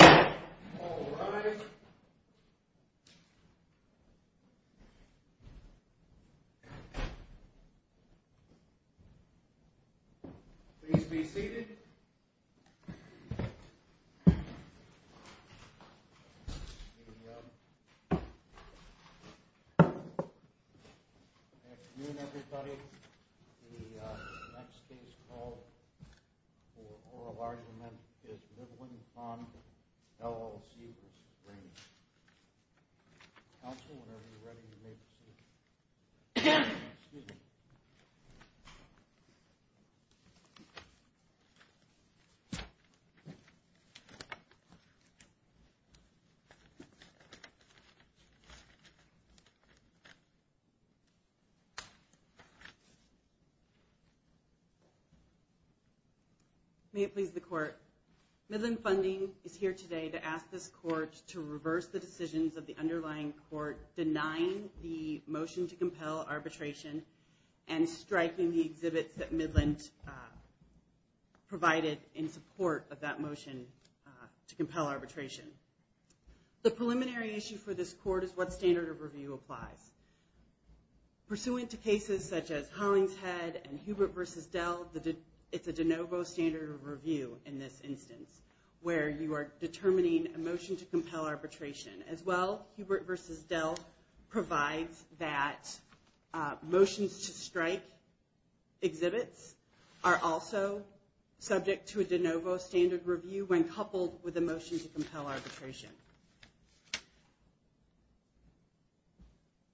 Alright, please be seated. Good afternoon everybody. The next case called for oral argument is Midland Fund, LLC v. Raney. Counsel, whenever you're ready, you may proceed. Excuse me. May it please the court. Midland Funding is here today to ask this court to reverse the decisions of the underlying court denying the motion to compel arbitration and striking the exhibits that Midland provided in support of that motion to compel arbitration. The preliminary issue for this court is what standard of review applies. Pursuant to cases such as Hollingshead and Hubert v. Dell, it's a de novo standard of review in this instance, where you are determining a motion to compel arbitration. As well, Hubert v. Dell provides that motions to strike exhibits are also subject to a de novo standard of review when coupled with a motion to compel arbitration.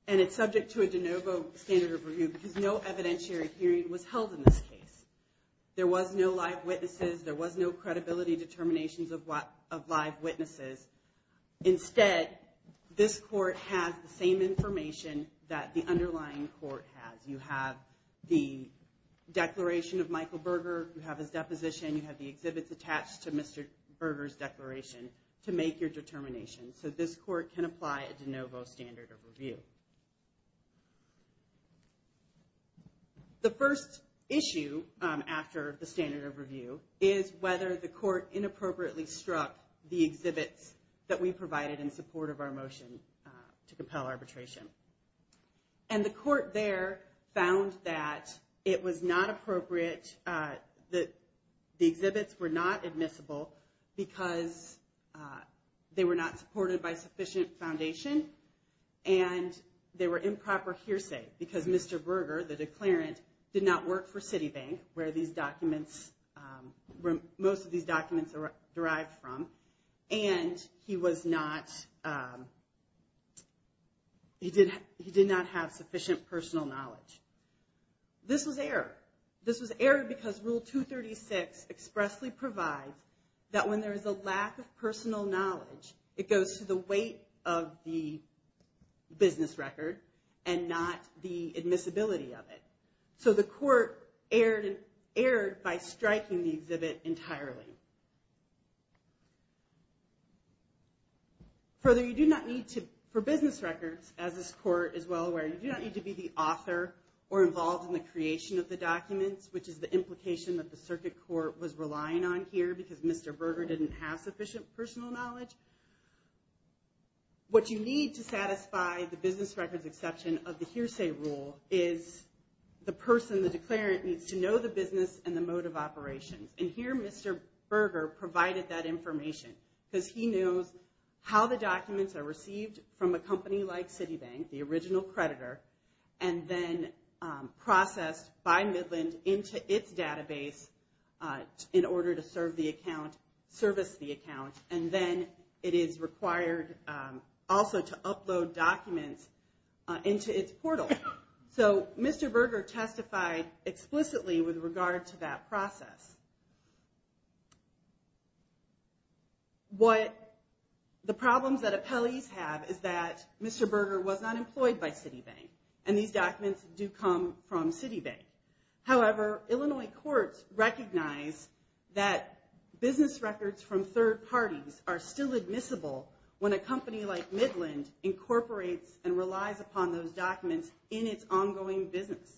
And it's subject to a de novo standard of review because no evidentiary hearing was held in this case. There was no live witnesses. There was no credibility determinations of live witnesses. Instead, this court has the same information that the underlying court has. You have the declaration of Michael Berger. You have his deposition. You have the exhibits attached to Mr. Berger's declaration to make your determination. So this court can apply a de novo standard of review. The first issue after the standard of review is whether the court inappropriately struck the exhibits that we provided in support of our motion to compel arbitration. And the court there found that it was not appropriate, that the exhibits were not admissible because they were not supported by sufficient foundation and they were improper hearsay because Mr. Berger, the declarant, did not work for Citibank, where most of these documents are derived from, and he did not have sufficient personal knowledge. This was error. This was error because Rule 236 expressly provides that when there is a lack of personal knowledge, it goes to the weight of the business record and not the admissibility of it. So the court erred by striking the exhibit entirely. Further, you do not need to, for business records, as this court is well aware, you do not need to be the author or involved in the creation of the documents, which is the implication that the circuit court was relying on here because Mr. Berger didn't have sufficient personal knowledge. What you need to satisfy the business records exception of the hearsay rule is the person, the declarant, needs to know the business and the mode of operations. And here Mr. Berger provided that information because he knows how the documents are received from a company like Citibank, the original creditor, and then processed by Midland into its database in order to serve the account, service the account, and then it is required also to upload documents into its portal. So Mr. Berger testified explicitly with regard to that process. What the problems that appellees have is that Mr. Berger was not employed by Citibank, and these documents do come from Citibank. However, Illinois courts recognize that business records from third parties are still admissible when a company like Midland incorporates and relies upon those documents in its ongoing business.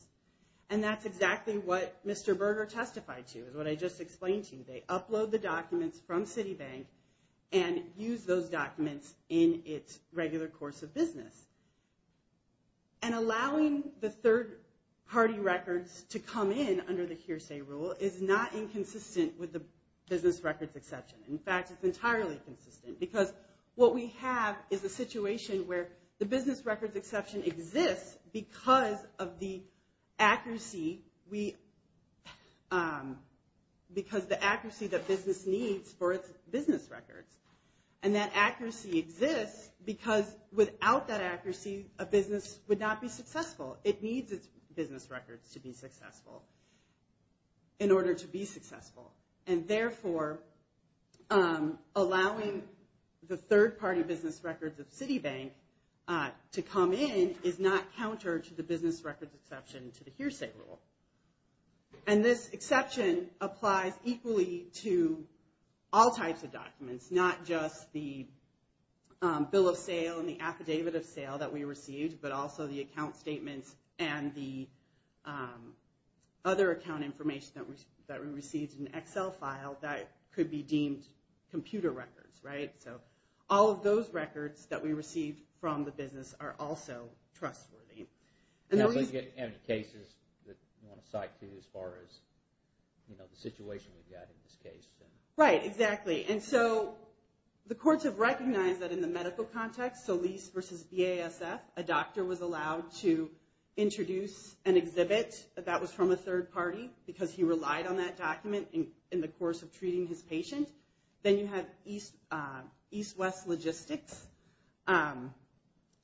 And that's exactly what Mr. Berger testified to is what I just explained to you. They upload the documents from Citibank and use those documents in its regular course of business. And allowing the third party records to come in under the hearsay rule is not inconsistent with the business records exception. In fact, it's entirely consistent because what we have is a situation where the business records exception exists because of the accuracy that business needs for its business records. And that accuracy exists because without that accuracy, a business would not be successful. It needs its business records to be successful in order to be successful. And therefore, allowing the third party business records of Citibank to come in is not counter to the business records exception to the hearsay rule. And this exception applies equally to all types of documents, not just the bill of sale and the affidavit of sale that we received, but also the account statements and the other account information that we received in an Excel file that could be deemed computer records, right? So all of those records that we received from the business are also trustworthy. And we get cases that you want to cite to as far as the situation we've got in this case. Right, exactly. Okay, and so the courts have recognized that in the medical context, Solis versus BASF, a doctor was allowed to introduce an exhibit that was from a third party because he relied on that document in the course of treating his patient. Then you have EastWest Logistics.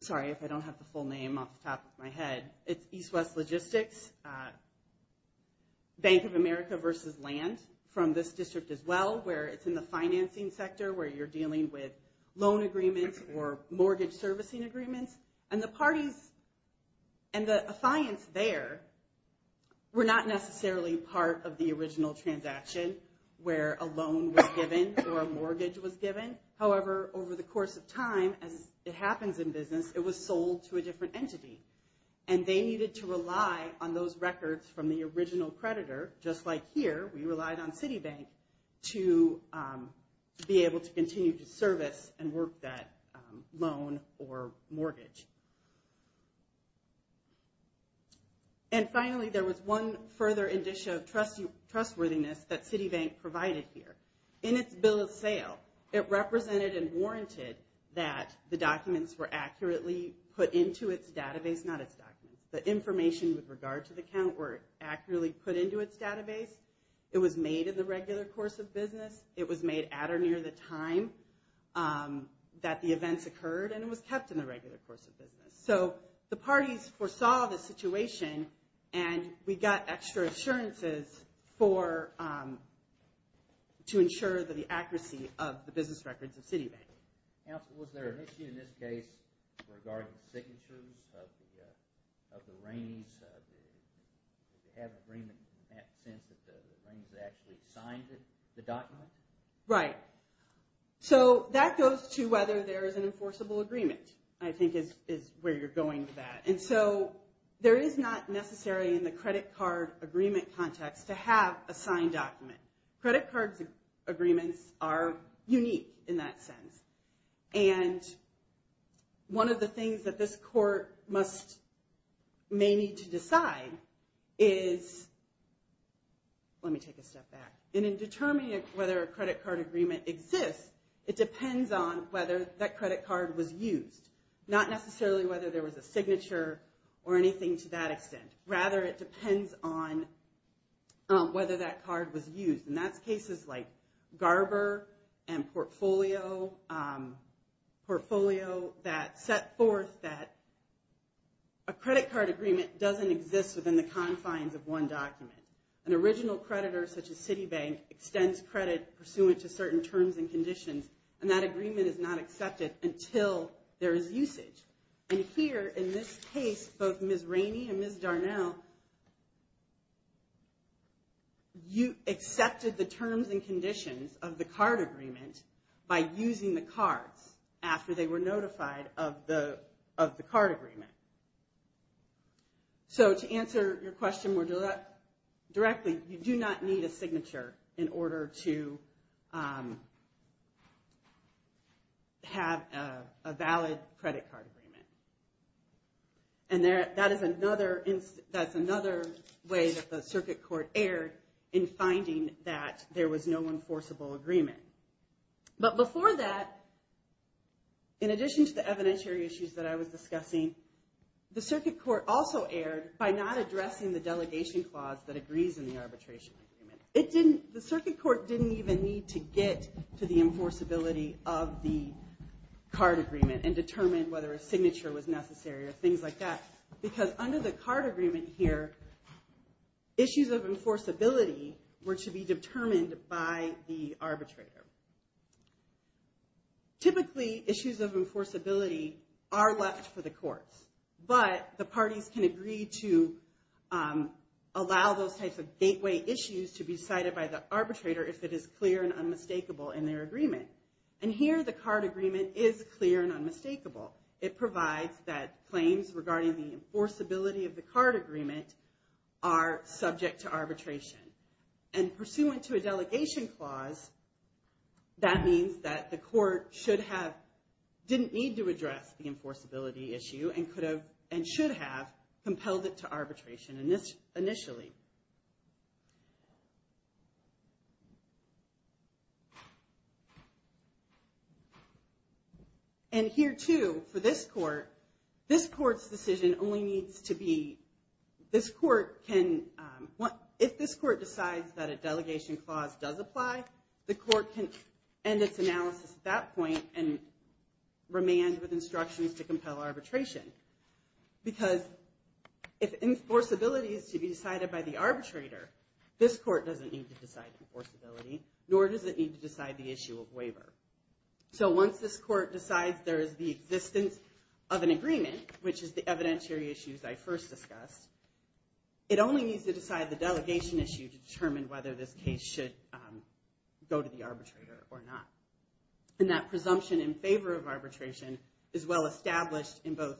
Sorry if I don't have the full name off the top of my head. It's EastWest Logistics, Bank of America versus land from this district as well, where it's in the financing sector, where you're dealing with loan agreements or mortgage servicing agreements. And the parties and the affiance there were not necessarily part of the original transaction where a loan was given or a mortgage was given. However, over the course of time, as it happens in business, it was sold to a different entity. And they needed to rely on those records from the original creditor, just like here, we relied on Citibank, to be able to continue to service and work that loan or mortgage. And finally, there was one further indicia of trustworthiness that Citibank provided here. In its bill of sale, it represented and warranted that the documents were accurately put into its database, not its documents. The information with regard to the account were accurately put into its database. It was made in the regular course of business. It was made at or near the time that the events occurred, and it was kept in the regular course of business. So the parties foresaw the situation, and we got extra assurances to ensure the accuracy of the business records of Citibank. Counsel, was there an issue in this case regarding the signatures of the Rainey's? Did they have an agreement in that sense that the Rainey's actually signed the document? Right. So that goes to whether there is an enforceable agreement, I think is where you're going with that. And so there is not necessary in the credit card agreement context to have a signed document. Credit card agreements are unique in that sense. And one of the things that this court may need to decide is, let me take a step back. In determining whether a credit card agreement exists, it depends on whether that credit card was used. Not necessarily whether there was a signature or anything to that extent. Rather, it depends on whether that card was used. And that's cases like Garber and Portfolio. Portfolio that set forth that a credit card agreement doesn't exist within the confines of one document. An original creditor, such as Citibank, extends credit pursuant to certain terms and conditions. And that agreement is not accepted until there is usage. And here, in this case, both Ms. Rainey and Ms. Darnell accepted the terms and conditions of the card agreement by using the cards after they were notified of the card agreement. So to answer your question more directly, you do not need a signature in order to have a valid credit card agreement. And that is another way that the circuit court erred in finding that there was no enforceable agreement. But before that, in addition to the evidentiary issues that I was discussing, the circuit court also erred by not addressing the delegation clause that agrees in the arbitration agreement. The circuit court didn't even need to get to the enforceability of the card agreement and determine whether a signature was necessary or things like that. Because under the card agreement here, issues of enforceability were to be determined by the arbitrator. Typically, issues of enforceability are left for the courts. But the parties can agree to allow those types of gateway issues to be cited by the arbitrator if it is clear and unmistakable in their agreement. And here, the card agreement is clear and unmistakable. It provides that claims regarding the enforceability of the card agreement are subject to arbitration. And pursuant to a delegation clause, that means that the court didn't need to address the enforceability issue and should have compelled it to arbitration initially. And here, too, for this court, this court's decision only needs to be, this court can, if this court decides that a delegation clause does apply, the court can end its analysis at that point and remand with instructions to compel arbitration. Because if enforceability is to be decided by the arbitrator, this court doesn't need to decide enforceability, nor does it need to decide the issue of waiver. So once this court decides there is the existence of an agreement, which is the evidentiary issues I first discussed, it only needs to decide the delegation issue to determine whether this case should go to the arbitrator or not. And that presumption in favor of arbitration is well established in both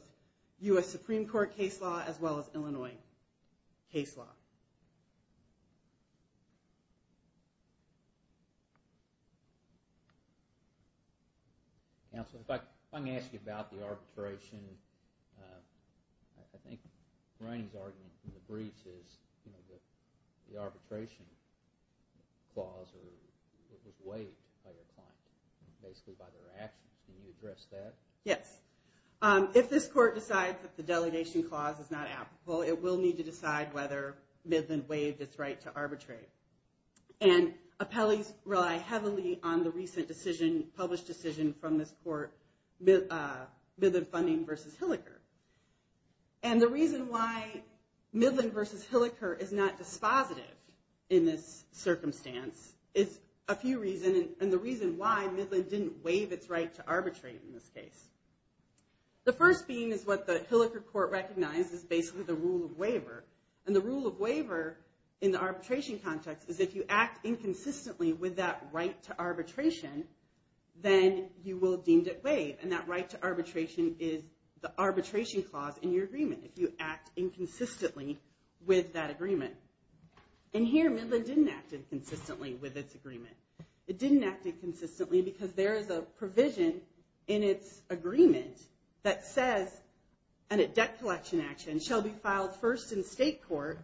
U.S. Supreme Court case law as well as Illinois case law. Counsel, if I may ask you about the arbitration, I think Rainey's argument in the briefs is the arbitration clause was waived by their client, basically by their actions. Can you address that? Yes. If this court decides that the delegation clause is not applicable, it will need to decide whether Midland waived its right to arbitrate. And appellees rely heavily on the recent decision, published decision from this court, Midland Funding v. Hilliker. And the reason why Midland v. Hilliker is not dispositive in this circumstance is a few reasons. And the reason why Midland didn't waive its right to arbitrate in this case. The first being is what the Hilliker court recognized as basically the rule of waiver. And the rule of waiver in the arbitration context is if you act inconsistently with that right to arbitration, then you will be deemed at waive. And that right to arbitration is the arbitration clause in your agreement, if you act inconsistently with that agreement. And here Midland didn't act inconsistently with its agreement. It didn't act inconsistently because there is a provision in its agreement that says, in a debt collection action, shall be filed first in state court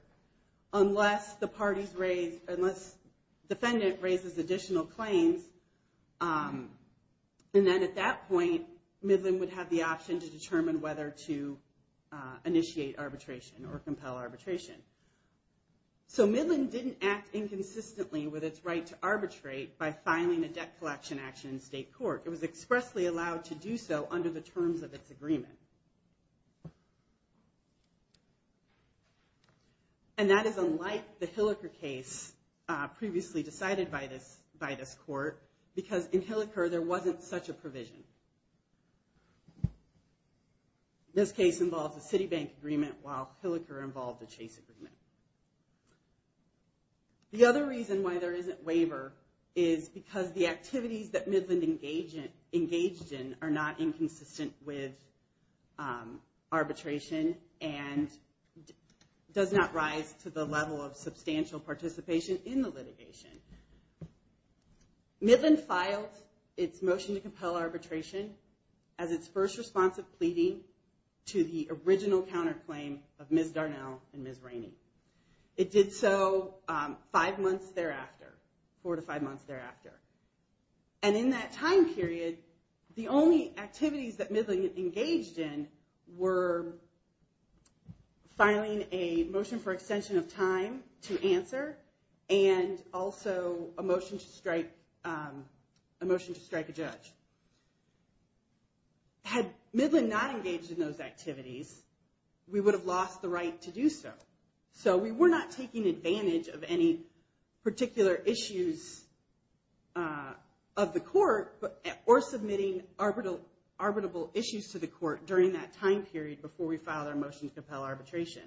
unless the parties raise, unless defendant raises additional claims. And then at that point, Midland would have the option to determine whether to initiate arbitration or compel arbitration. So Midland didn't act inconsistently with its right to arbitrate by filing a debt collection action in state court. It was expressly allowed to do so under the terms of its agreement. And that is unlike the Hilliker case previously decided by this court, because in Hilliker there wasn't such a provision. This case involves a Citibank agreement while Hilliker involved a Chase agreement. The other reason why there isn't waiver is because the activities that Midland engaged in are not inconsistent with arbitration and does not rise to the level of substantial participation in the litigation. Midland filed its motion to compel arbitration as its first response of pleading to the original counterclaim of Ms. Darnell and Ms. Rainey. It did so five months thereafter, four to five months thereafter. And in that time period, the only activities that Midland engaged in were filing a motion for extension of time to answer and also a motion to strike a judge. Had Midland not engaged in those activities, we would have lost the right to do so. So we were not taking advantage of any particular issues of the court or submitting arbitrable issues to the court during that time period before we filed our motion to compel arbitration.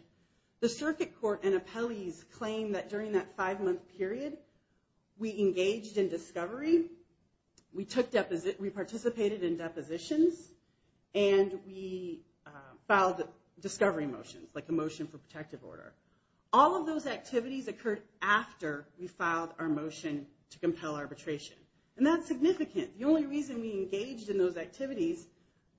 The circuit court and appellees claimed that during that five-month period, we engaged in discovery, we participated in depositions, and we filed discovery motions, like a motion for protective order. All of those activities occurred after we filed our motion to compel arbitration. And that's significant. The only reason we engaged in those activities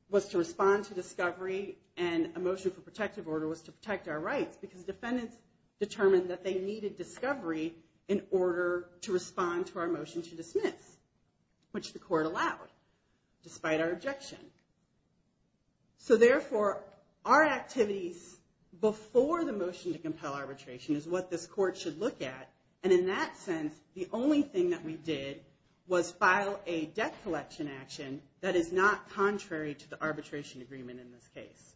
was to respond to discovery and a motion for protective order was to protect our rights, because defendants determined that they needed discovery in order to respond to our motion to dismiss, which the court allowed, despite our objection. So therefore, our activities before the motion to compel arbitration is what this court should look at. And in that sense, the only thing that we did was file a debt collection action that is not contrary to the arbitration agreement in this case.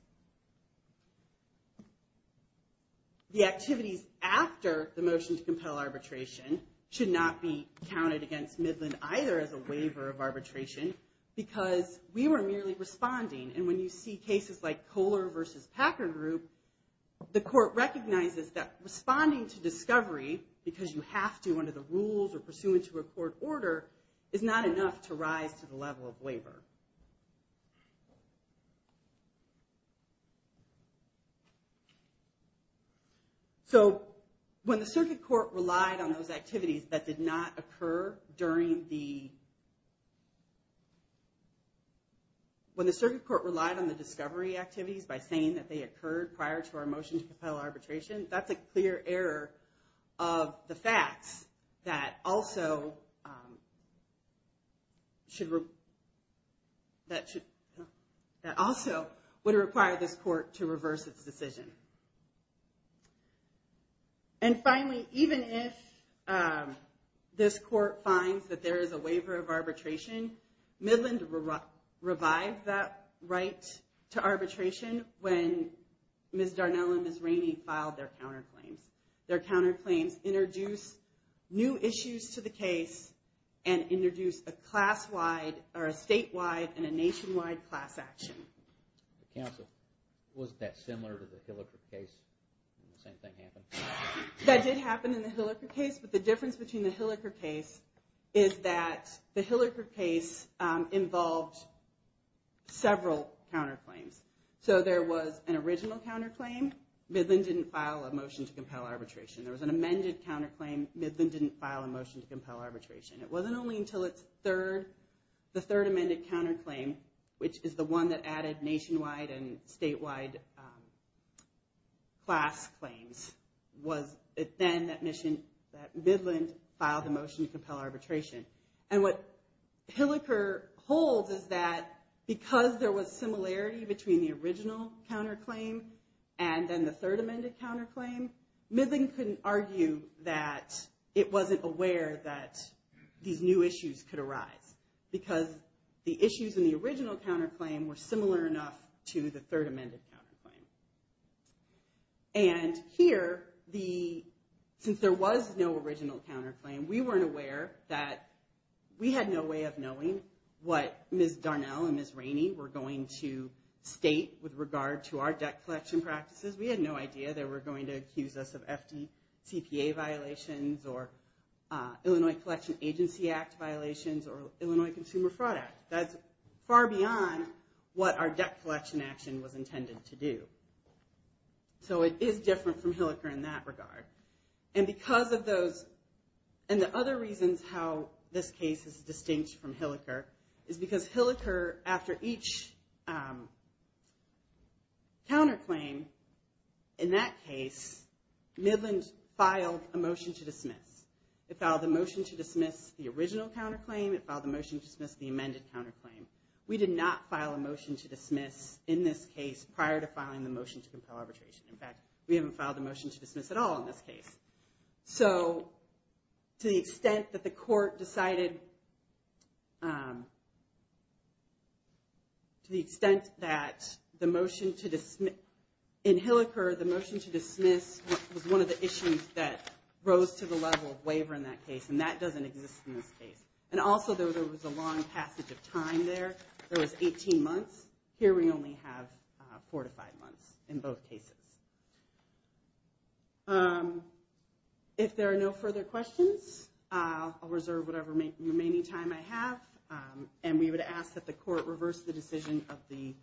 The activities after the motion to compel arbitration should not be counted against Midland either as a waiver of arbitration, because we were merely responding. And when you see cases like Kohler v. Packard Group, the court recognizes that responding to discovery, because you have to under the rules or pursuant to a court order, is not enough to rise to the level of waiver. So when the circuit court relied on the discovery activities by saying that they occurred prior to our motion to compel arbitration, that's a clear error of the facts that also would require this court to reverse its decision. And finally, even if this court finds that there is a waiver of arbitration, Midland revived that right to arbitration when Ms. Darnell and Ms. Rainey filed their counterclaims. Their counterclaims introduced new issues to the case and introduced a statewide and a nationwide class action. Counsel, wasn't that similar to the Hilliker case when the same thing happened? That did happen in the Hilliker case. But the difference between the Hilliker case is that the Hilliker case involved several counterclaims. So there was an original counterclaim. Midland didn't file a motion to compel arbitration. There was an amended counterclaim. Midland didn't file a motion to compel arbitration. It wasn't only until the third amended counterclaim, which is the one that added nationwide and statewide class claims, was it then that Midland filed a motion to compel arbitration. And what Hilliker holds is that because there was similarity between the original counterclaim and then the third amended counterclaim, Midland couldn't argue that it wasn't aware that these new issues could arise. Because the issues in the original counterclaim were similar enough to the third amended counterclaim. And here, since there was no original counterclaim, we weren't aware that we had no way of knowing what Ms. Darnell and Ms. Rainey were going to state with regard to our debt collection practices. We had no idea they were going to accuse us of FDTPA violations or Illinois Collection Agency Act violations or Illinois Consumer Fraud Act. That's far beyond what our debt collection action was intended to do. So it is different from Hilliker in that regard. And because of those, and the other reasons how this case is distinct from Hilliker is because Hilliker, after each counterclaim in that case, Midland filed a motion to dismiss. It filed a motion to dismiss the original counterclaim. It filed a motion to dismiss the amended counterclaim. We did not file a motion to dismiss in this case prior to filing the motion to compel arbitration. In fact, we haven't filed a motion to dismiss at all in this case. So to the extent that the court decided, to the extent that the motion to dismiss in Hilliker, the motion to dismiss was one of the issues that rose to the level of waiver in that case. And that doesn't exist in this case. And also, there was a long passage of time there. There was 18 months. Here, we only have four to five months in both cases. If there are no further questions, I'll reserve whatever remaining time I have. And we would ask that the court reverse the decision of the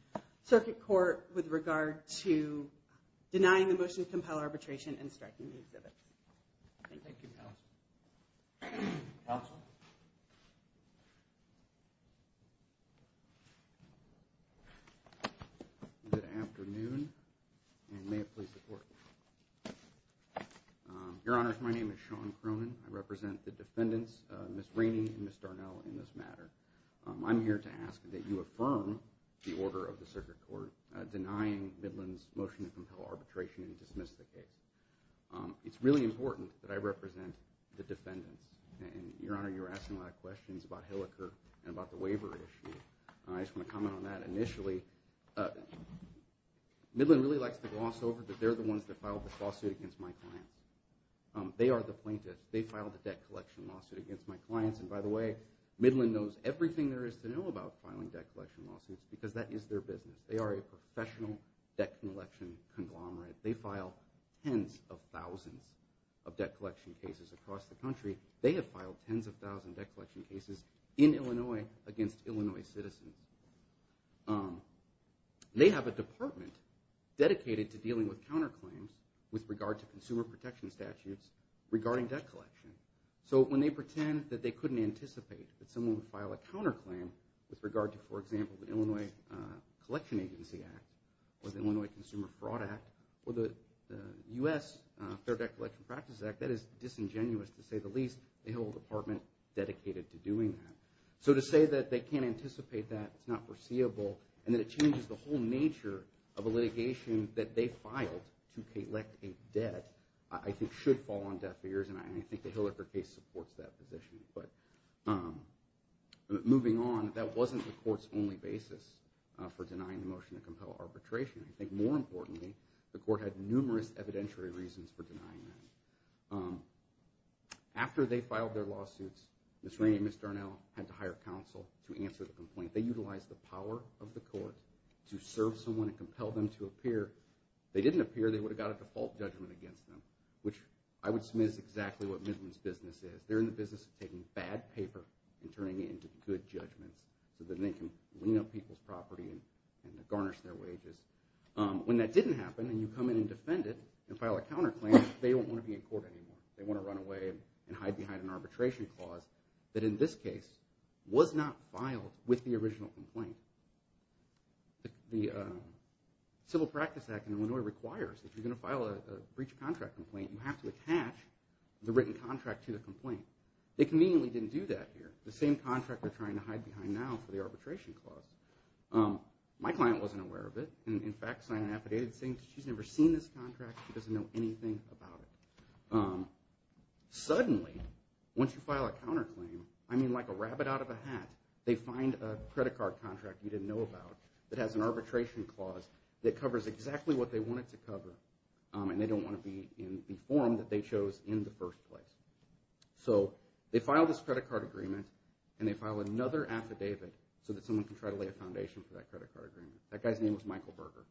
circuit court with regard to denying the motion to compel arbitration and striking the exhibits. Thank you. Counsel? Good afternoon, and may it please the court. Your Honors, my name is Sean Cronin. I represent the defendants, Ms. Rainey and Ms. Darnell, in this matter. I'm here to ask that you affirm the order of the circuit court denying Midland's motion to compel arbitration and dismiss the case. It's really important that I represent the defendants. And, Your Honor, you were asking a lot of questions about Hilliker and about the waiver issue. I just want to comment on that initially. Midland really likes to gloss over that they're the ones that filed the lawsuit against my clients. They are the plaintiffs. They filed the debt collection lawsuit against my clients. And, by the way, Midland knows everything there is to know about filing debt collection lawsuits because that is their business. They are a professional debt collection conglomerate. They file tens of thousands of debt collection cases across the country. They have filed tens of thousands of debt collection cases in Illinois against Illinois citizens. They have a department dedicated to dealing with counterclaims with regard to consumer protection statutes regarding debt collection. So when they pretend that they couldn't anticipate that someone would file a counterclaim with regard to, for example, the Illinois Collection Agency Act or the Illinois Consumer Fraud Act or the U.S. Fair Debt Collection Practices Act, that is disingenuous to say the least. They hold a department dedicated to doing that. So to say that they can't anticipate that, it's not foreseeable, and that it changes the whole nature of a litigation that they filed to collect a debt, I think should fall on deaf ears, and I think the Hilliker case supports that position. But moving on, that wasn't the court's only basis for denying the motion to compel arbitration. I think more importantly, the court had numerous evidentiary reasons for denying that. After they filed their lawsuits, Ms. Rainey and Ms. Darnell had to hire counsel to answer the complaint. They utilized the power of the court to serve someone and compel them to appear. If they didn't appear, they would have got a default judgment against them, which I would smith is exactly what Midland's business is. They're in the business of taking bad paper and turning it into good judgments so that they can clean up people's property and garnish their wages. When that didn't happen and you come in and defend it and file a counterclaim, they don't want to be in court anymore. They want to run away and hide behind an arbitration clause that, in this case, was not filed with the original complaint. The Civil Practice Act in Illinois requires that if you're going to file a breach of contract complaint, you have to attach the written contract to the complaint. They conveniently didn't do that here. The same contract they're trying to hide behind now for the arbitration clause. My client wasn't aware of it and, in fact, signed an affidavit saying she's never seen this contract. She doesn't know anything about it. Suddenly, once you file a counterclaim, I mean like a rabbit out of a hat, they find a credit card contract you didn't know about that has an arbitration clause that covers exactly what they wanted to cover, and they don't want to be in the form that they chose in the first place. So they file this credit card agreement, and they file another affidavit so that someone can try to lay a foundation for that credit card agreement. That guy's name was Michael Berger.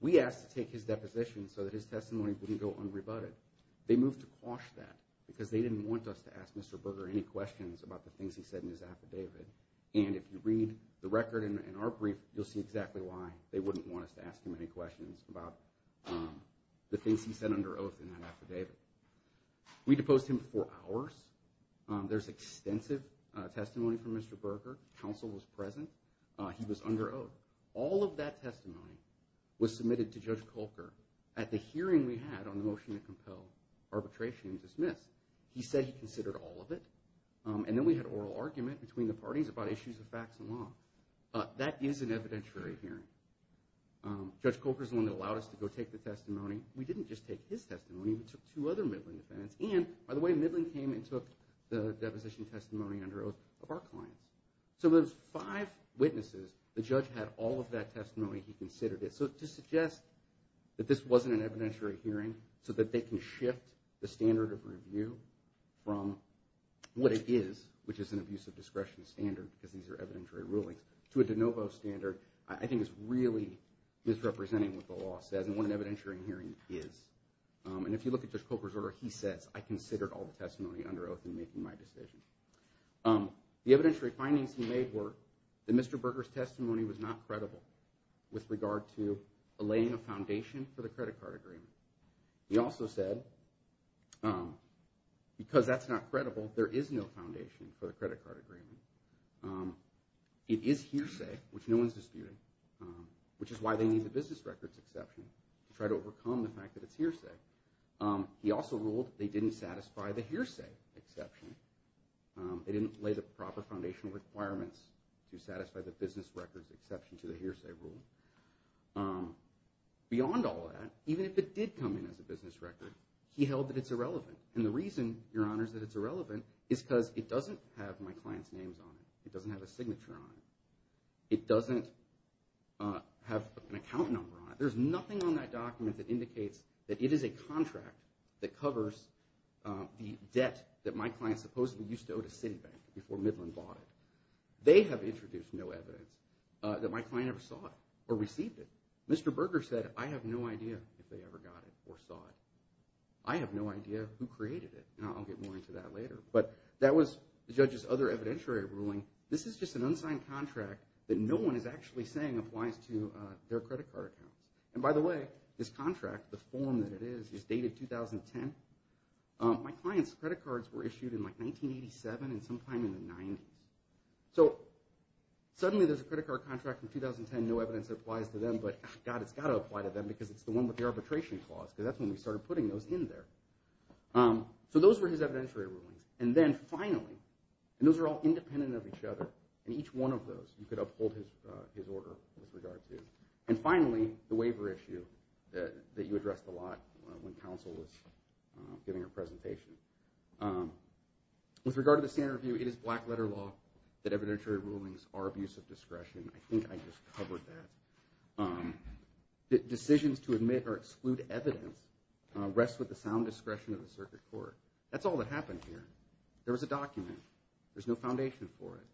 We asked to take his deposition so that his testimony wouldn't go unrebutted. They moved to quash that because they didn't want us to ask Mr. Berger any questions about the things he said in his affidavit, and if you read the record in our brief, you'll see exactly why they wouldn't want us to ask him any questions about the things he said under oath in that affidavit. We deposed him for hours. There's extensive testimony from Mr. Berger. Counsel was present. He was under oath. All of that testimony was submitted to Judge Kolker at the hearing we had on the motion to compel arbitration and dismiss. He said he considered all of it, and then we had oral argument between the parties about issues of facts and law. That is an evidentiary hearing. Judge Kolker is the one that allowed us to go take the testimony. We didn't just take his testimony. We took two other Midland defendants, and, by the way, Midland came and took the deposition testimony under oath of our clients. So those five witnesses, the judge had all of that testimony. He considered it. So to suggest that this wasn't an evidentiary hearing so that they can shift the standard of review from what it is, which is an abuse of discretion standard because these are evidentiary rulings, to a de novo standard, I think is really misrepresenting what the law says and what an evidentiary hearing is. And if you look at Judge Kolker's order, he says, I considered all the testimony under oath in making my decision. The evidentiary findings he made were that Mr. Berger's testimony was not credible with regard to laying a foundation for the credit card agreement. He also said, because that's not credible, there is no foundation for the credit card agreement. It is hearsay, which no one's disputing, which is why they need the business records exception to try to overcome the fact that it's hearsay. He also ruled they didn't satisfy the hearsay exception. They didn't lay the proper foundational requirements to satisfy the business records exception to the hearsay rule. Beyond all that, even if it did come in as a business record, he held that it's irrelevant. And the reason, Your Honors, that it's irrelevant is because it doesn't have my client's names on it. It doesn't have a signature on it. It doesn't have an account number on it. There's nothing on that document that indicates that it is a contract that covers the debt that my client supposedly used to owe to Citibank before Midland bought it. They have introduced no evidence that my client ever saw it or received it. Mr. Berger said, I have no idea if they ever got it or saw it. I have no idea who created it. And I'll get more into that later. But that was the judge's other evidentiary ruling. This is just an unsigned contract that no one is actually saying applies to their credit card accounts. And by the way, this contract, the form that it is, is dated 2010. My client's credit cards were issued in, like, 1987 and sometime in the 90s. So suddenly there's a credit card contract from 2010, no evidence that it applies to them, but, God, it's got to apply to them because it's the one with the arbitration clause, because that's when we started putting those in there. So those were his evidentiary rulings. And then, finally, and those are all independent of each other, and each one of those you could uphold his order with regard to. And finally, the waiver issue that you addressed a lot when counsel was giving her presentation. With regard to the standard review, it is black-letter law that evidentiary rulings are abuse of discretion. I think I just covered that. Decisions to admit or exclude evidence rest with the sound discretion of the circuit court. That's all that happened here. There was a document. There's no foundation for it.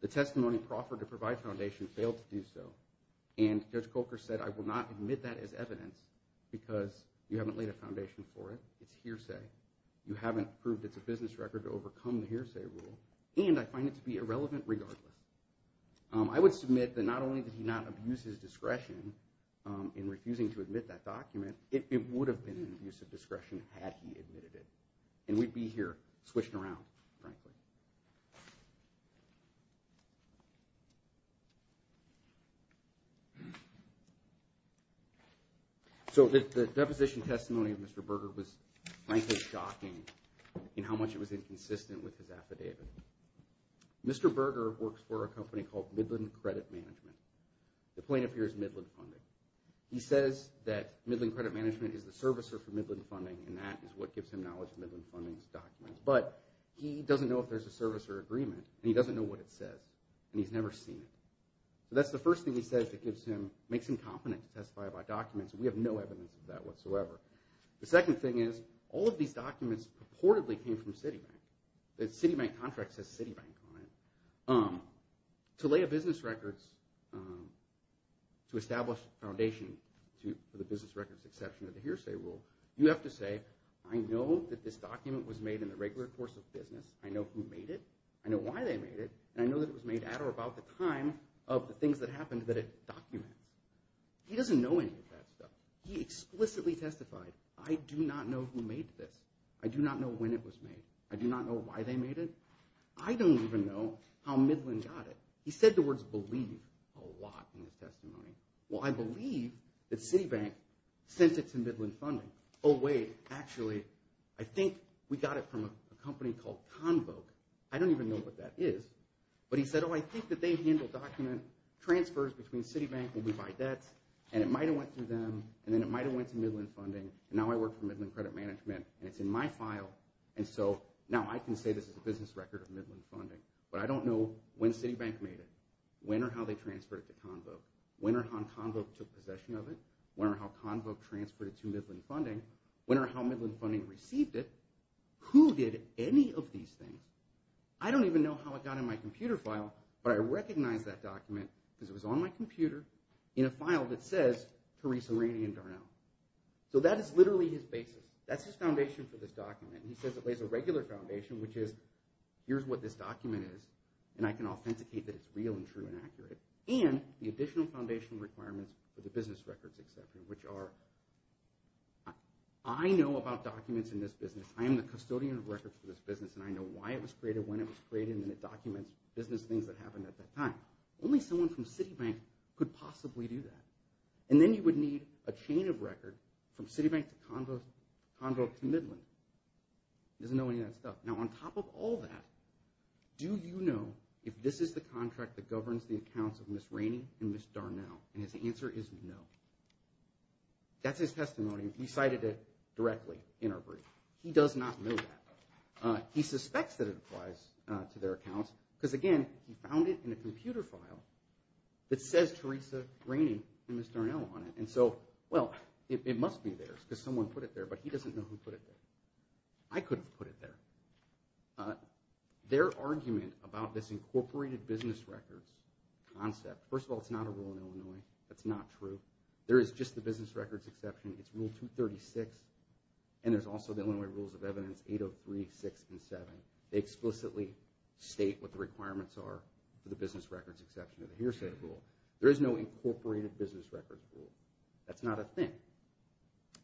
The testimony proffered to provide foundation failed to do so. And Judge Coker said, I will not admit that as evidence because you haven't laid a foundation for it. It's hearsay. You haven't proved it's a business record to overcome the hearsay rule. And I find it to be irrelevant regardless. I would submit that not only did he not abuse his discretion in refusing to admit that document, it would have been an abuse of discretion had he admitted it. And we'd be here swishing around, frankly. So the deposition testimony of Mr. Berger was, frankly, shocking in how much it was inconsistent with his affidavit. Mr. Berger works for a company called Midland Credit Management. The plaintiff here is Midland Funding. He says that Midland Credit Management is the servicer for Midland Funding, and that is what gives him knowledge of Midland Funding's documents. He doesn't know if they're servicers for Midland Funding. He doesn't know whether there's a servicer agreement, and he doesn't know what it says, and he's never seen it. That's the first thing he says that makes him confident to testify about documents, and we have no evidence of that whatsoever. The second thing is, all of these documents purportedly came from Citibank. The Citibank contract says Citibank on it. To lay a business record, to establish a foundation for the business record's exception to the hearsay rule, you have to say, I know that this document was made in the regular course of business, I know who made it, I know why they made it, and I know that it was made at or about the time of the things that happened that it documents. He doesn't know any of that stuff. He explicitly testified, I do not know who made this. I do not know when it was made. I do not know why they made it. I don't even know how Midland got it. He said the words believe a lot in his testimony. Well, I believe that Citibank sent it to Midland Funding. Oh, wait, actually, I think we got it from a company called Convoke. I don't even know what that is. But he said, oh, I think that they handle document transfers between Citibank when we buy debts, and it might have went through them, and then it might have went to Midland Funding, and now I work for Midland Credit Management, and it's in my file, and so now I can say this is a business record of Midland Funding. But I don't know when Citibank made it, when or how they transferred it to Convoke, when or how Convoke took possession of it, when or how Convoke transferred it to Midland Funding, when or how Midland Funding received it. Who did any of these things? I don't even know how it got in my computer file, but I recognize that document because it was on my computer in a file that says Theresa Rainey and Darnell. So that is literally his basis. That's his foundation for this document. He says it lays a regular foundation, which is, here's what this document is, and I can authenticate that it's real and true and accurate, and the additional foundation requirements for the business records, etc., which are, I know about documents in this business, I am the custodian of records for this business, and I know why it was created, when it was created, and it documents business things that happened at that time. Only someone from Citibank could possibly do that. And then you would need a chain of records from Citibank to Convoke to Midland. He doesn't know any of that stuff. Now on top of all that, do you know if this is the contract that governs the accounts of Ms. Rainey and Ms. Darnell? And his answer is no. That's his testimony. He cited it directly in our brief. He does not know that. He suspects that it applies to their accounts, because again, he found it in a computer file that says Teresa Rainey and Ms. Darnell on it. And so, well, it must be theirs, because someone put it there, but he doesn't know who put it there. I could have put it there. Their argument about this incorporated business records concept, first of all, it's not a rule in Illinois. That's not true. There is just the business records exception. It's Rule 236. And there's also the Illinois Rules of Evidence 803, 6, and 7. They explicitly state what the requirements are for the business records exception of the hearsay rule. There is no incorporated business records rule. That's not a thing.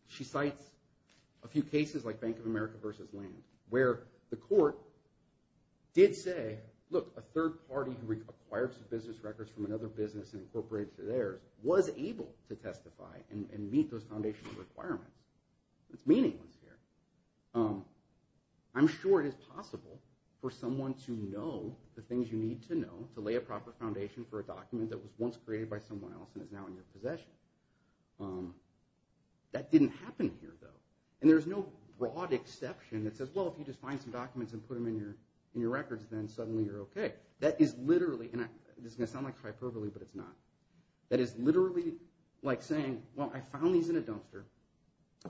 She cites a few cases like Bank of America v. Land, where the court did say, look, a third party who acquires the business records from another business and incorporates it to theirs was able to testify and meet those foundational requirements. It's meaningless here. I'm sure it is possible for someone to know the things you need to know to lay a proper foundation for a document that was once created by someone else and is now in your possession. That didn't happen here, though. And there's no broad exception that says, well, if you just find some documents and put them in your records, then suddenly you're okay. This is going to sound like hyperbole, but it's not. That is literally like saying, well, I found these in a dumpster,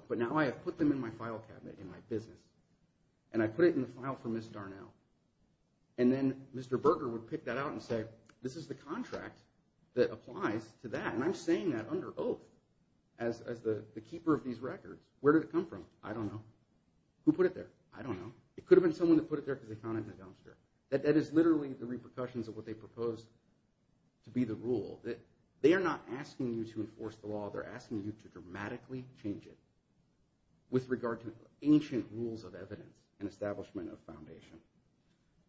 but now I have put them in my file cabinet in my business. And I put it in the file for Ms. Darnell. And then Mr. Berger would pick that out and say, this is the contract that applies to that. And I'm saying that under oath as the keeper of these records. Where did it come from? I don't know. Who put it there? I don't know. It could have been someone who put it there because they found it in a dumpster. That is literally the repercussions of what they proposed to be the rule. They are not asking you to enforce the law. They're asking you to dramatically change it with regard to ancient rules of evidence and establishment of foundation.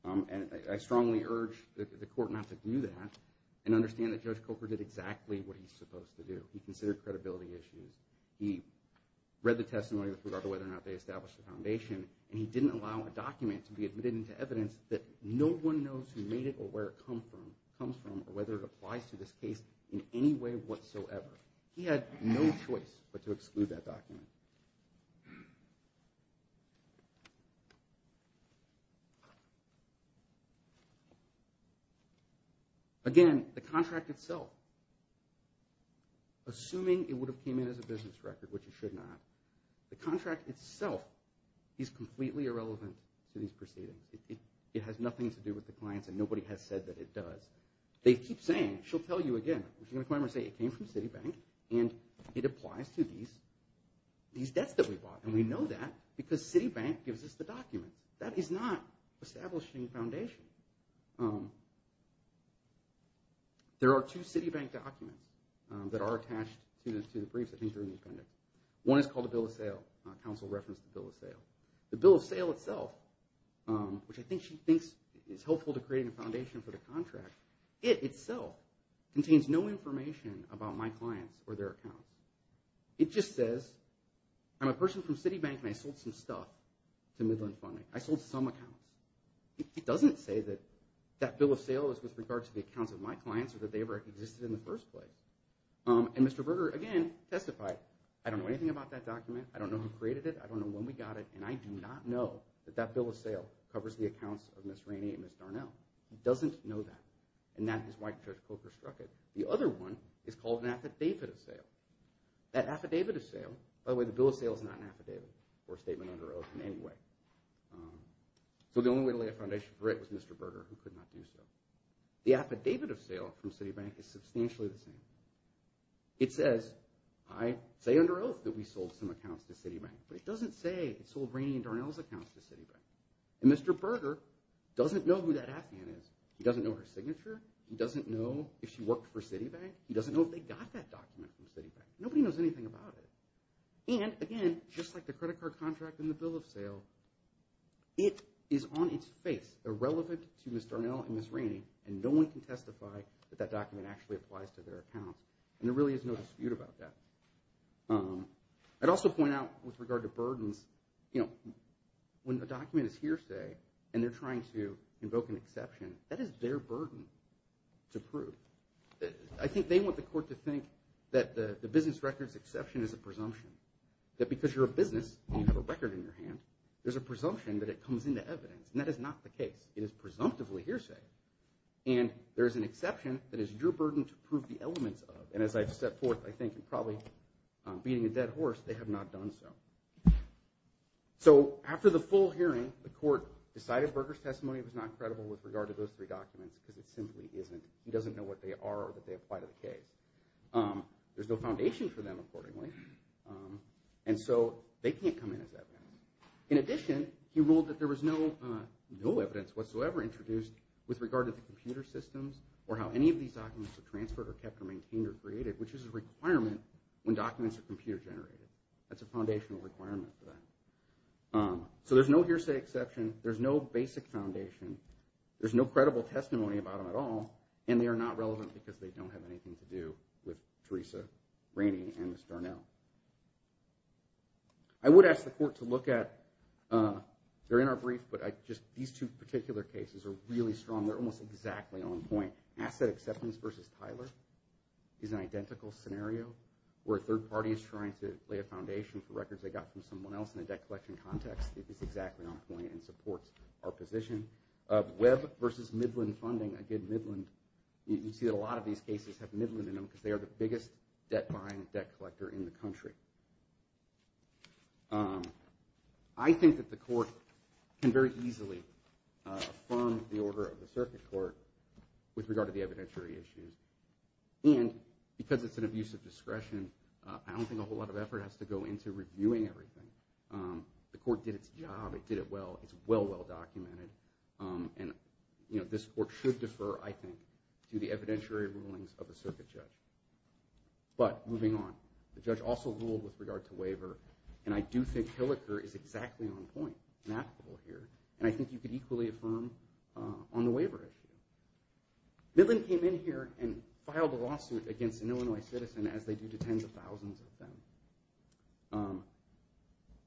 And I strongly urge the court not to do that and understand that Judge Coker did exactly what he's supposed to do. He considered credibility issues. He read the testimony with regard to whether or not they established the foundation. And he didn't allow a document to be admitted into evidence that no one knows who made it or where it comes from or whether it applies to this case in any way whatsoever. He had no choice but to exclude that document. Again, the contract itself, assuming it would have came in as a business record, which it should not, the contract itself is completely irrelevant to these proceedings. It has nothing to do with the clients and nobody has said that it does. They keep saying, she'll tell you again, she's going to come in and say it came from Citibank and it applies to these debts that we bought. And we know that because Citibank gives us the documents. That is not establishing foundation. There are two Citibank documents that are attached to the briefs. One is called a bill of sale. Counsel referenced the bill of sale. The bill of sale itself, which I think she thinks is helpful to create a foundation for the contract, it itself contains no information about my clients or their accounts. It just says, I'm a person from Citibank and I sold some stuff to Midland Funding. I sold some accounts. It doesn't say that that bill of sale is with regard to the accounts of my clients or that they ever existed in the first place. And Mr. Berger again testified, I don't know anything about that document. I don't know who created it. I don't know when we got it. And I do not know that that bill of sale covers the accounts of Ms. Rainey and Ms. Darnell. He doesn't know that. And that is why Judge Coker struck it. The other one is called an affidavit of sale. That affidavit of sale, by the way, the bill of sale is not an affidavit or a statement under oath in any way. So the only way to lay a foundation for it was Mr. Berger who could not do so. The affidavit of sale from Citibank is substantially the same. It says, I say under oath that we sold some accounts to Citibank. But it doesn't say it sold Rainey and Darnell's accounts to Citibank. And Mr. Berger doesn't know who that affidavit is. He doesn't know her signature. He doesn't know if she worked for Citibank. He doesn't know if they got that document from Citibank. Nobody knows anything about it. And again, just like the credit card contract and the bill of sale, it is on its face irrelevant to Ms. Darnell and Ms. Rainey and no one can testify that that document actually applies to their accounts. And there really is no dispute about that. I'd also point out with regard to burdens, when a document is hearsay and they're trying to invoke an exception, that is their burden to prove. I think they want the court to think that the business records exception is a presumption. That because you're a business and you have a record in your hand, there's a presumption that it comes into evidence. And that is not the case. It is presumptively hearsay. And there is an exception that is your burden to prove the elements of. And as I've set forth, I think in probably beating a dead horse, they have not done so. So after the full hearing, the court decided Berger's testimony was not credible with regard to those three documents because it simply isn't. He doesn't know what they are or that they apply to the case. There's no foundation for them, accordingly. And so they can't come in as evidence. In addition, he ruled that there was no evidence whatsoever introduced with regard to the computer systems or how any of these documents were transferred or kept or maintained or created, which is a requirement when documents are computer generated. That's a foundational requirement for them. So there's no hearsay exception. There's no basic foundation. There's no credible testimony about them at all. And they are not relevant because they don't have anything to do with Teresa Rainey and Ms. Darnell. I would ask the court to look at, they're in our brief, but these two particular cases are really strong. They're almost exactly on point. Asset acceptance versus Tyler is an identical scenario where a third party is trying to lay a foundation for records they got from someone else in a debt collection context. It is exactly on point and supports our position. Web versus Midland funding, again, Midland, you see that a lot of these cases have Midland in them because they are the biggest debt-buying debt collector in the country. I think that the court can very easily affirm the order of the circuit court with regard to the evidentiary issues. And because it's an abuse of discretion, I don't think a whole lot of effort has to go into reviewing everything. The court did its job. It did it well. It's well, well documented. And this court should defer, I think, to the evidentiary rulings of the circuit judge. But moving on. The judge also ruled with regard to waiver, and I do think Hilliker is exactly on point and applicable here. And I think you could equally affirm on the waiver issue. Midland came in here and filed a lawsuit against an Illinois citizen as they do to tens of thousands of them.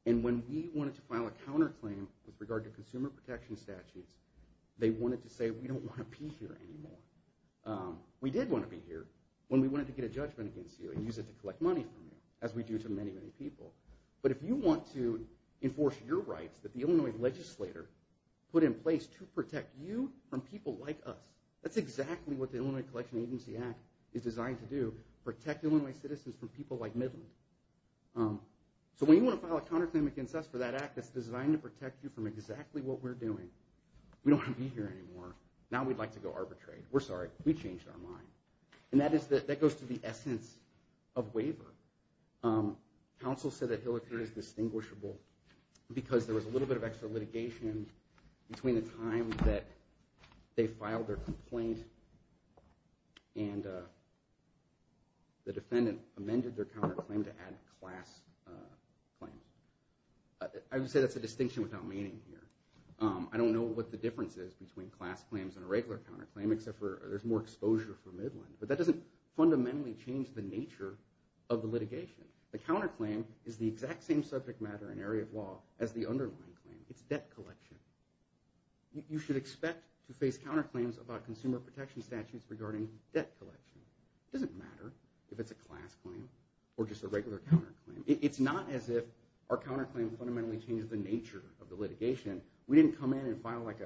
And when we wanted to file a counterclaim with regard to consumer protection statutes, they wanted to say, we don't want to be here anymore. We did want to be here when we wanted to get a judgment against you and use it to collect money from you, as we do to many, many people. But if you want to enforce your rights that the Illinois legislator put in place to protect you from people like us, that's exactly what the Illinois Collection Agency Act is designed to do. Protect Illinois citizens from people like Midland. So when you want to file a counterclaim against us for that act that's designed to protect you from exactly what we're doing, we don't want to be here anymore. Now we'd like to go arbitrate. We're sorry. We changed our mind. And that goes to the essence of waiver. Counsel said that Hillary is distinguishable because there was a little bit of extra litigation between the time that they filed their complaint and the defendant amended their counterclaim to add a class claim. I would say that's a distinction without meaning here. I don't know what the difference is between class claims and a regular counterclaim except for there's more exposure for Midland. But that doesn't fundamentally change the nature of the litigation. The counterclaim is the exact same subject matter and area of law as the underlying claim. It's debt collection. You should expect to face counterclaims about consumer protection statutes regarding debt collection. It doesn't matter if it's a class claim or just a regular counterclaim. It's not as if our counterclaim fundamentally changed the nature of the litigation. We didn't come in and file like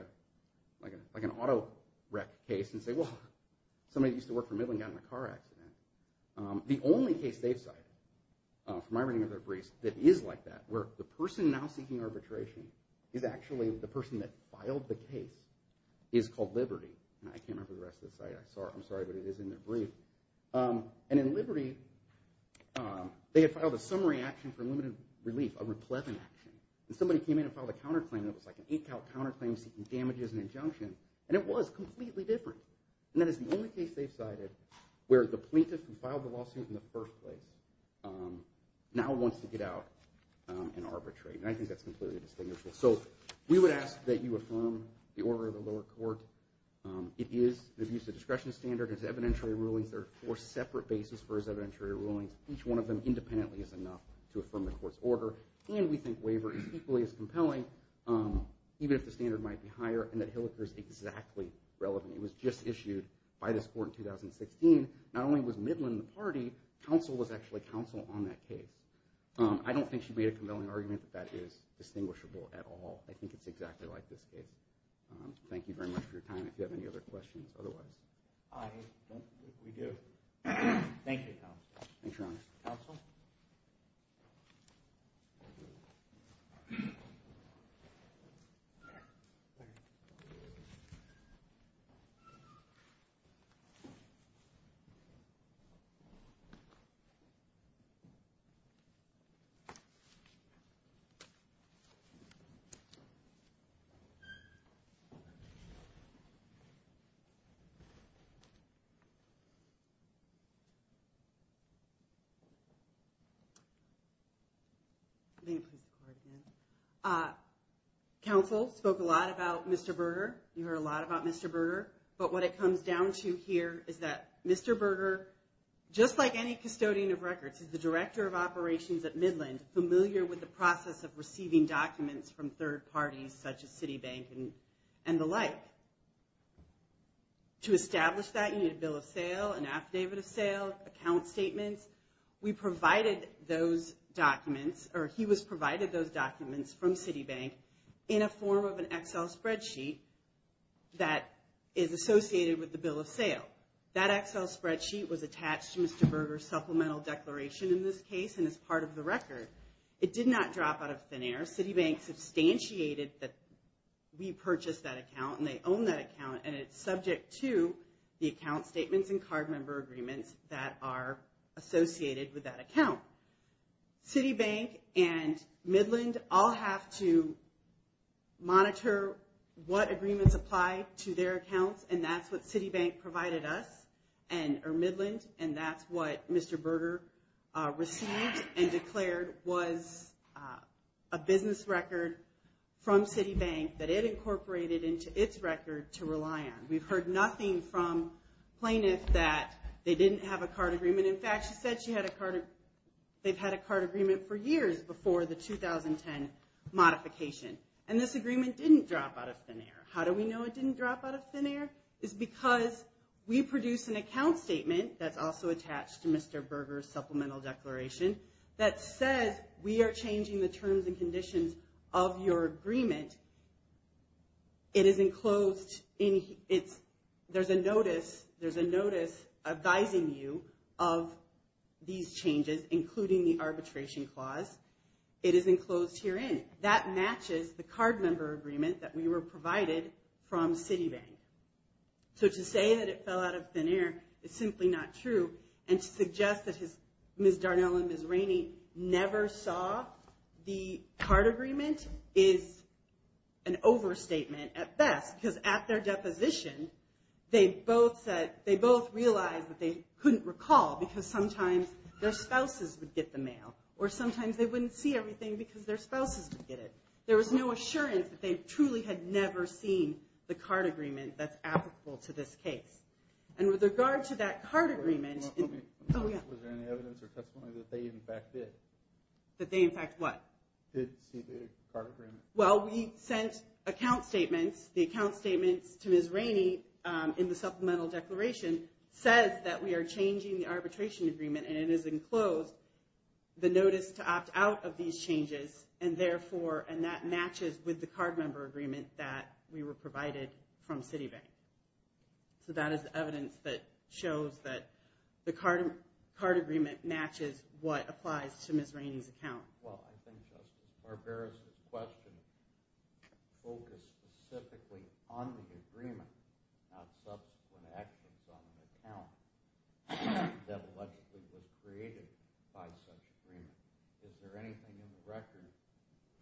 an auto wreck case and say, well, somebody that used to work for Midland got in a car accident. The only case they've cited, from my reading of their briefs, that is like that, where the person now seeking arbitration is actually the person that filed the case, is called Liberty. I can't remember the rest of the site. I'm sorry, but it is in their brief. And in Liberty, they had filed a summary action for limited relief, a replevin action, and somebody came in and filed a counterclaim that was like an eight count counterclaim seeking damages and injunction, and it was completely different. And that is the only case they've cited where the plaintiff who filed the lawsuit in the first place now wants to get out and arbitrate. And I think that's completely distinguishable. So we would ask that you affirm the order of the lower court. It is an abuse of discretion standard. It's evidentiary rulings. There are four separate bases for evidentiary rulings. Each one of them independently is enough to affirm the court's order. And we think waiver is equally as compelling, even if the standard might be higher, and that Hilliker is exactly relevant. It was just issued by this court in 2016. Not only was Midland the party, counsel was actually counsel on that case. I don't think she made a compelling argument that that is distinguishable at all. I think it's exactly like this case. Thank you very much for your time. If you have any other questions otherwise. I don't think we do. Thank you. Thank you. Counsel spoke a lot about Mr. Berger. You heard a lot about Mr. Berger. But what it comes down to here is that Mr. Berger, just like any custodian of records, is the director of operations at Midland, familiar with the process of receiving documents from third parties such as Citibank and the like. To establish that, you need a bill of sale, an affidavit of sale, account statements. We provided those documents, or he was provided those documents from Citibank in a form of an Excel spreadsheet that is associated with the bill of sale. That Excel spreadsheet was attached to Mr. Berger's supplemental declaration in this case and is part of the record. It did not drop out of thin air. Citibank substantiated that we purchased that account, and they own that account. And it's subject to the account statements and card member agreements that are associated with that account. Citibank and Midland all have to monitor what agreements apply to their accounts. And that's what Citibank provided us, or Midland. And that's what Mr. Berger received and declared was a business record from Citibank that it incorporated into its record to rely on. We've heard nothing from Plaintiff that they didn't have a card agreement. In fact, she said they've had a card agreement for years before the 2010 modification. And this agreement didn't drop out of thin air. How do we know it didn't drop out of thin air? It's because we produced an account statement that's also attached to Mr. Berger's supplemental declaration that says we are changing the terms and conditions of your agreement. There's a notice advising you of these changes, including the arbitration clause. It is enclosed herein. That matches the card member agreement that we were provided from Citibank. So to say that it fell out of thin air is simply not true. And to suggest that Ms. Darnell and Ms. Rainey never saw the card agreement is an overstatement at best. Because at their deposition, they both realized that they couldn't recall because sometimes their spouses would get the mail. Or sometimes they wouldn't see everything because their spouses would get it. There was no assurance that they truly had never seen the card agreement that's applicable to this case. And with regard to that card agreement... Was there any evidence or testimony that they in fact did? That they in fact what? Did see the card agreement. Well, we sent account statements. The account statements to Ms. Rainey in the supplemental declaration says that we are changing the arbitration agreement. And it is enclosed, the notice to opt out of these changes. And that matches with the card member agreement that we were provided from Citibank. So that is evidence that shows that the card agreement matches what applies to Ms. Rainey's account. Well, I think Justice Barbera's question focused specifically on the agreement not subsequent actions on the account that allegedly was created by such agreement. Is there anything in the record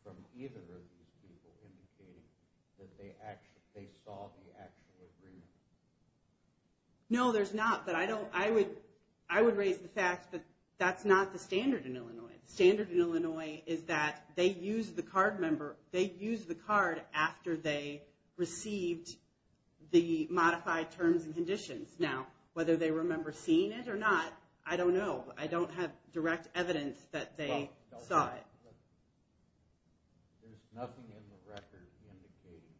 from either of these people indicating that they saw the actual agreement? No, there's not. I would raise the fact that that's not the standard in Illinois. The standard in Illinois is that they used the card after they received the modified terms and conditions. Now, whether they remember seeing it or not, I don't know. I don't have direct evidence that they saw it. There's nothing in the record indicating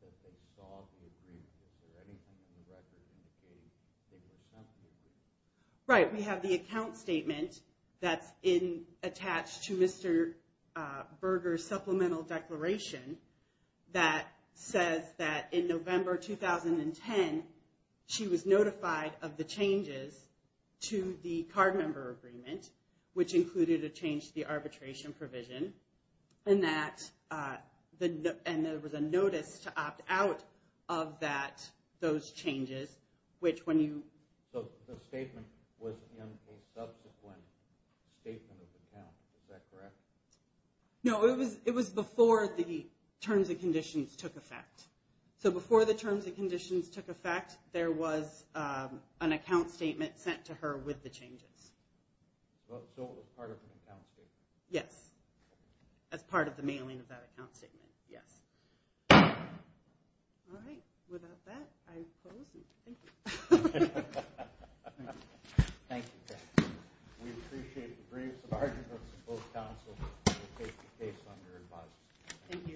that they saw the agreement. Is there anything in the record indicating they were sent the agreement? Right, we have the account statement that's attached to Mr. Berger's supplemental declaration that says that in November 2010 she was notified of the changes to the card member agreement which included a change to the arbitration provision and there was a notice to opt out of those changes. So the statement was in a subsequent statement of account, is that correct? No, it was before the terms and conditions took effect. There was an account statement sent to her with the changes. So it was part of an account statement? Yes, as part of the mailing of that account statement, yes. All right, without that I close. Thank you. Thank you. We appreciate the briefs and arguments of both counsels to take the case under advice.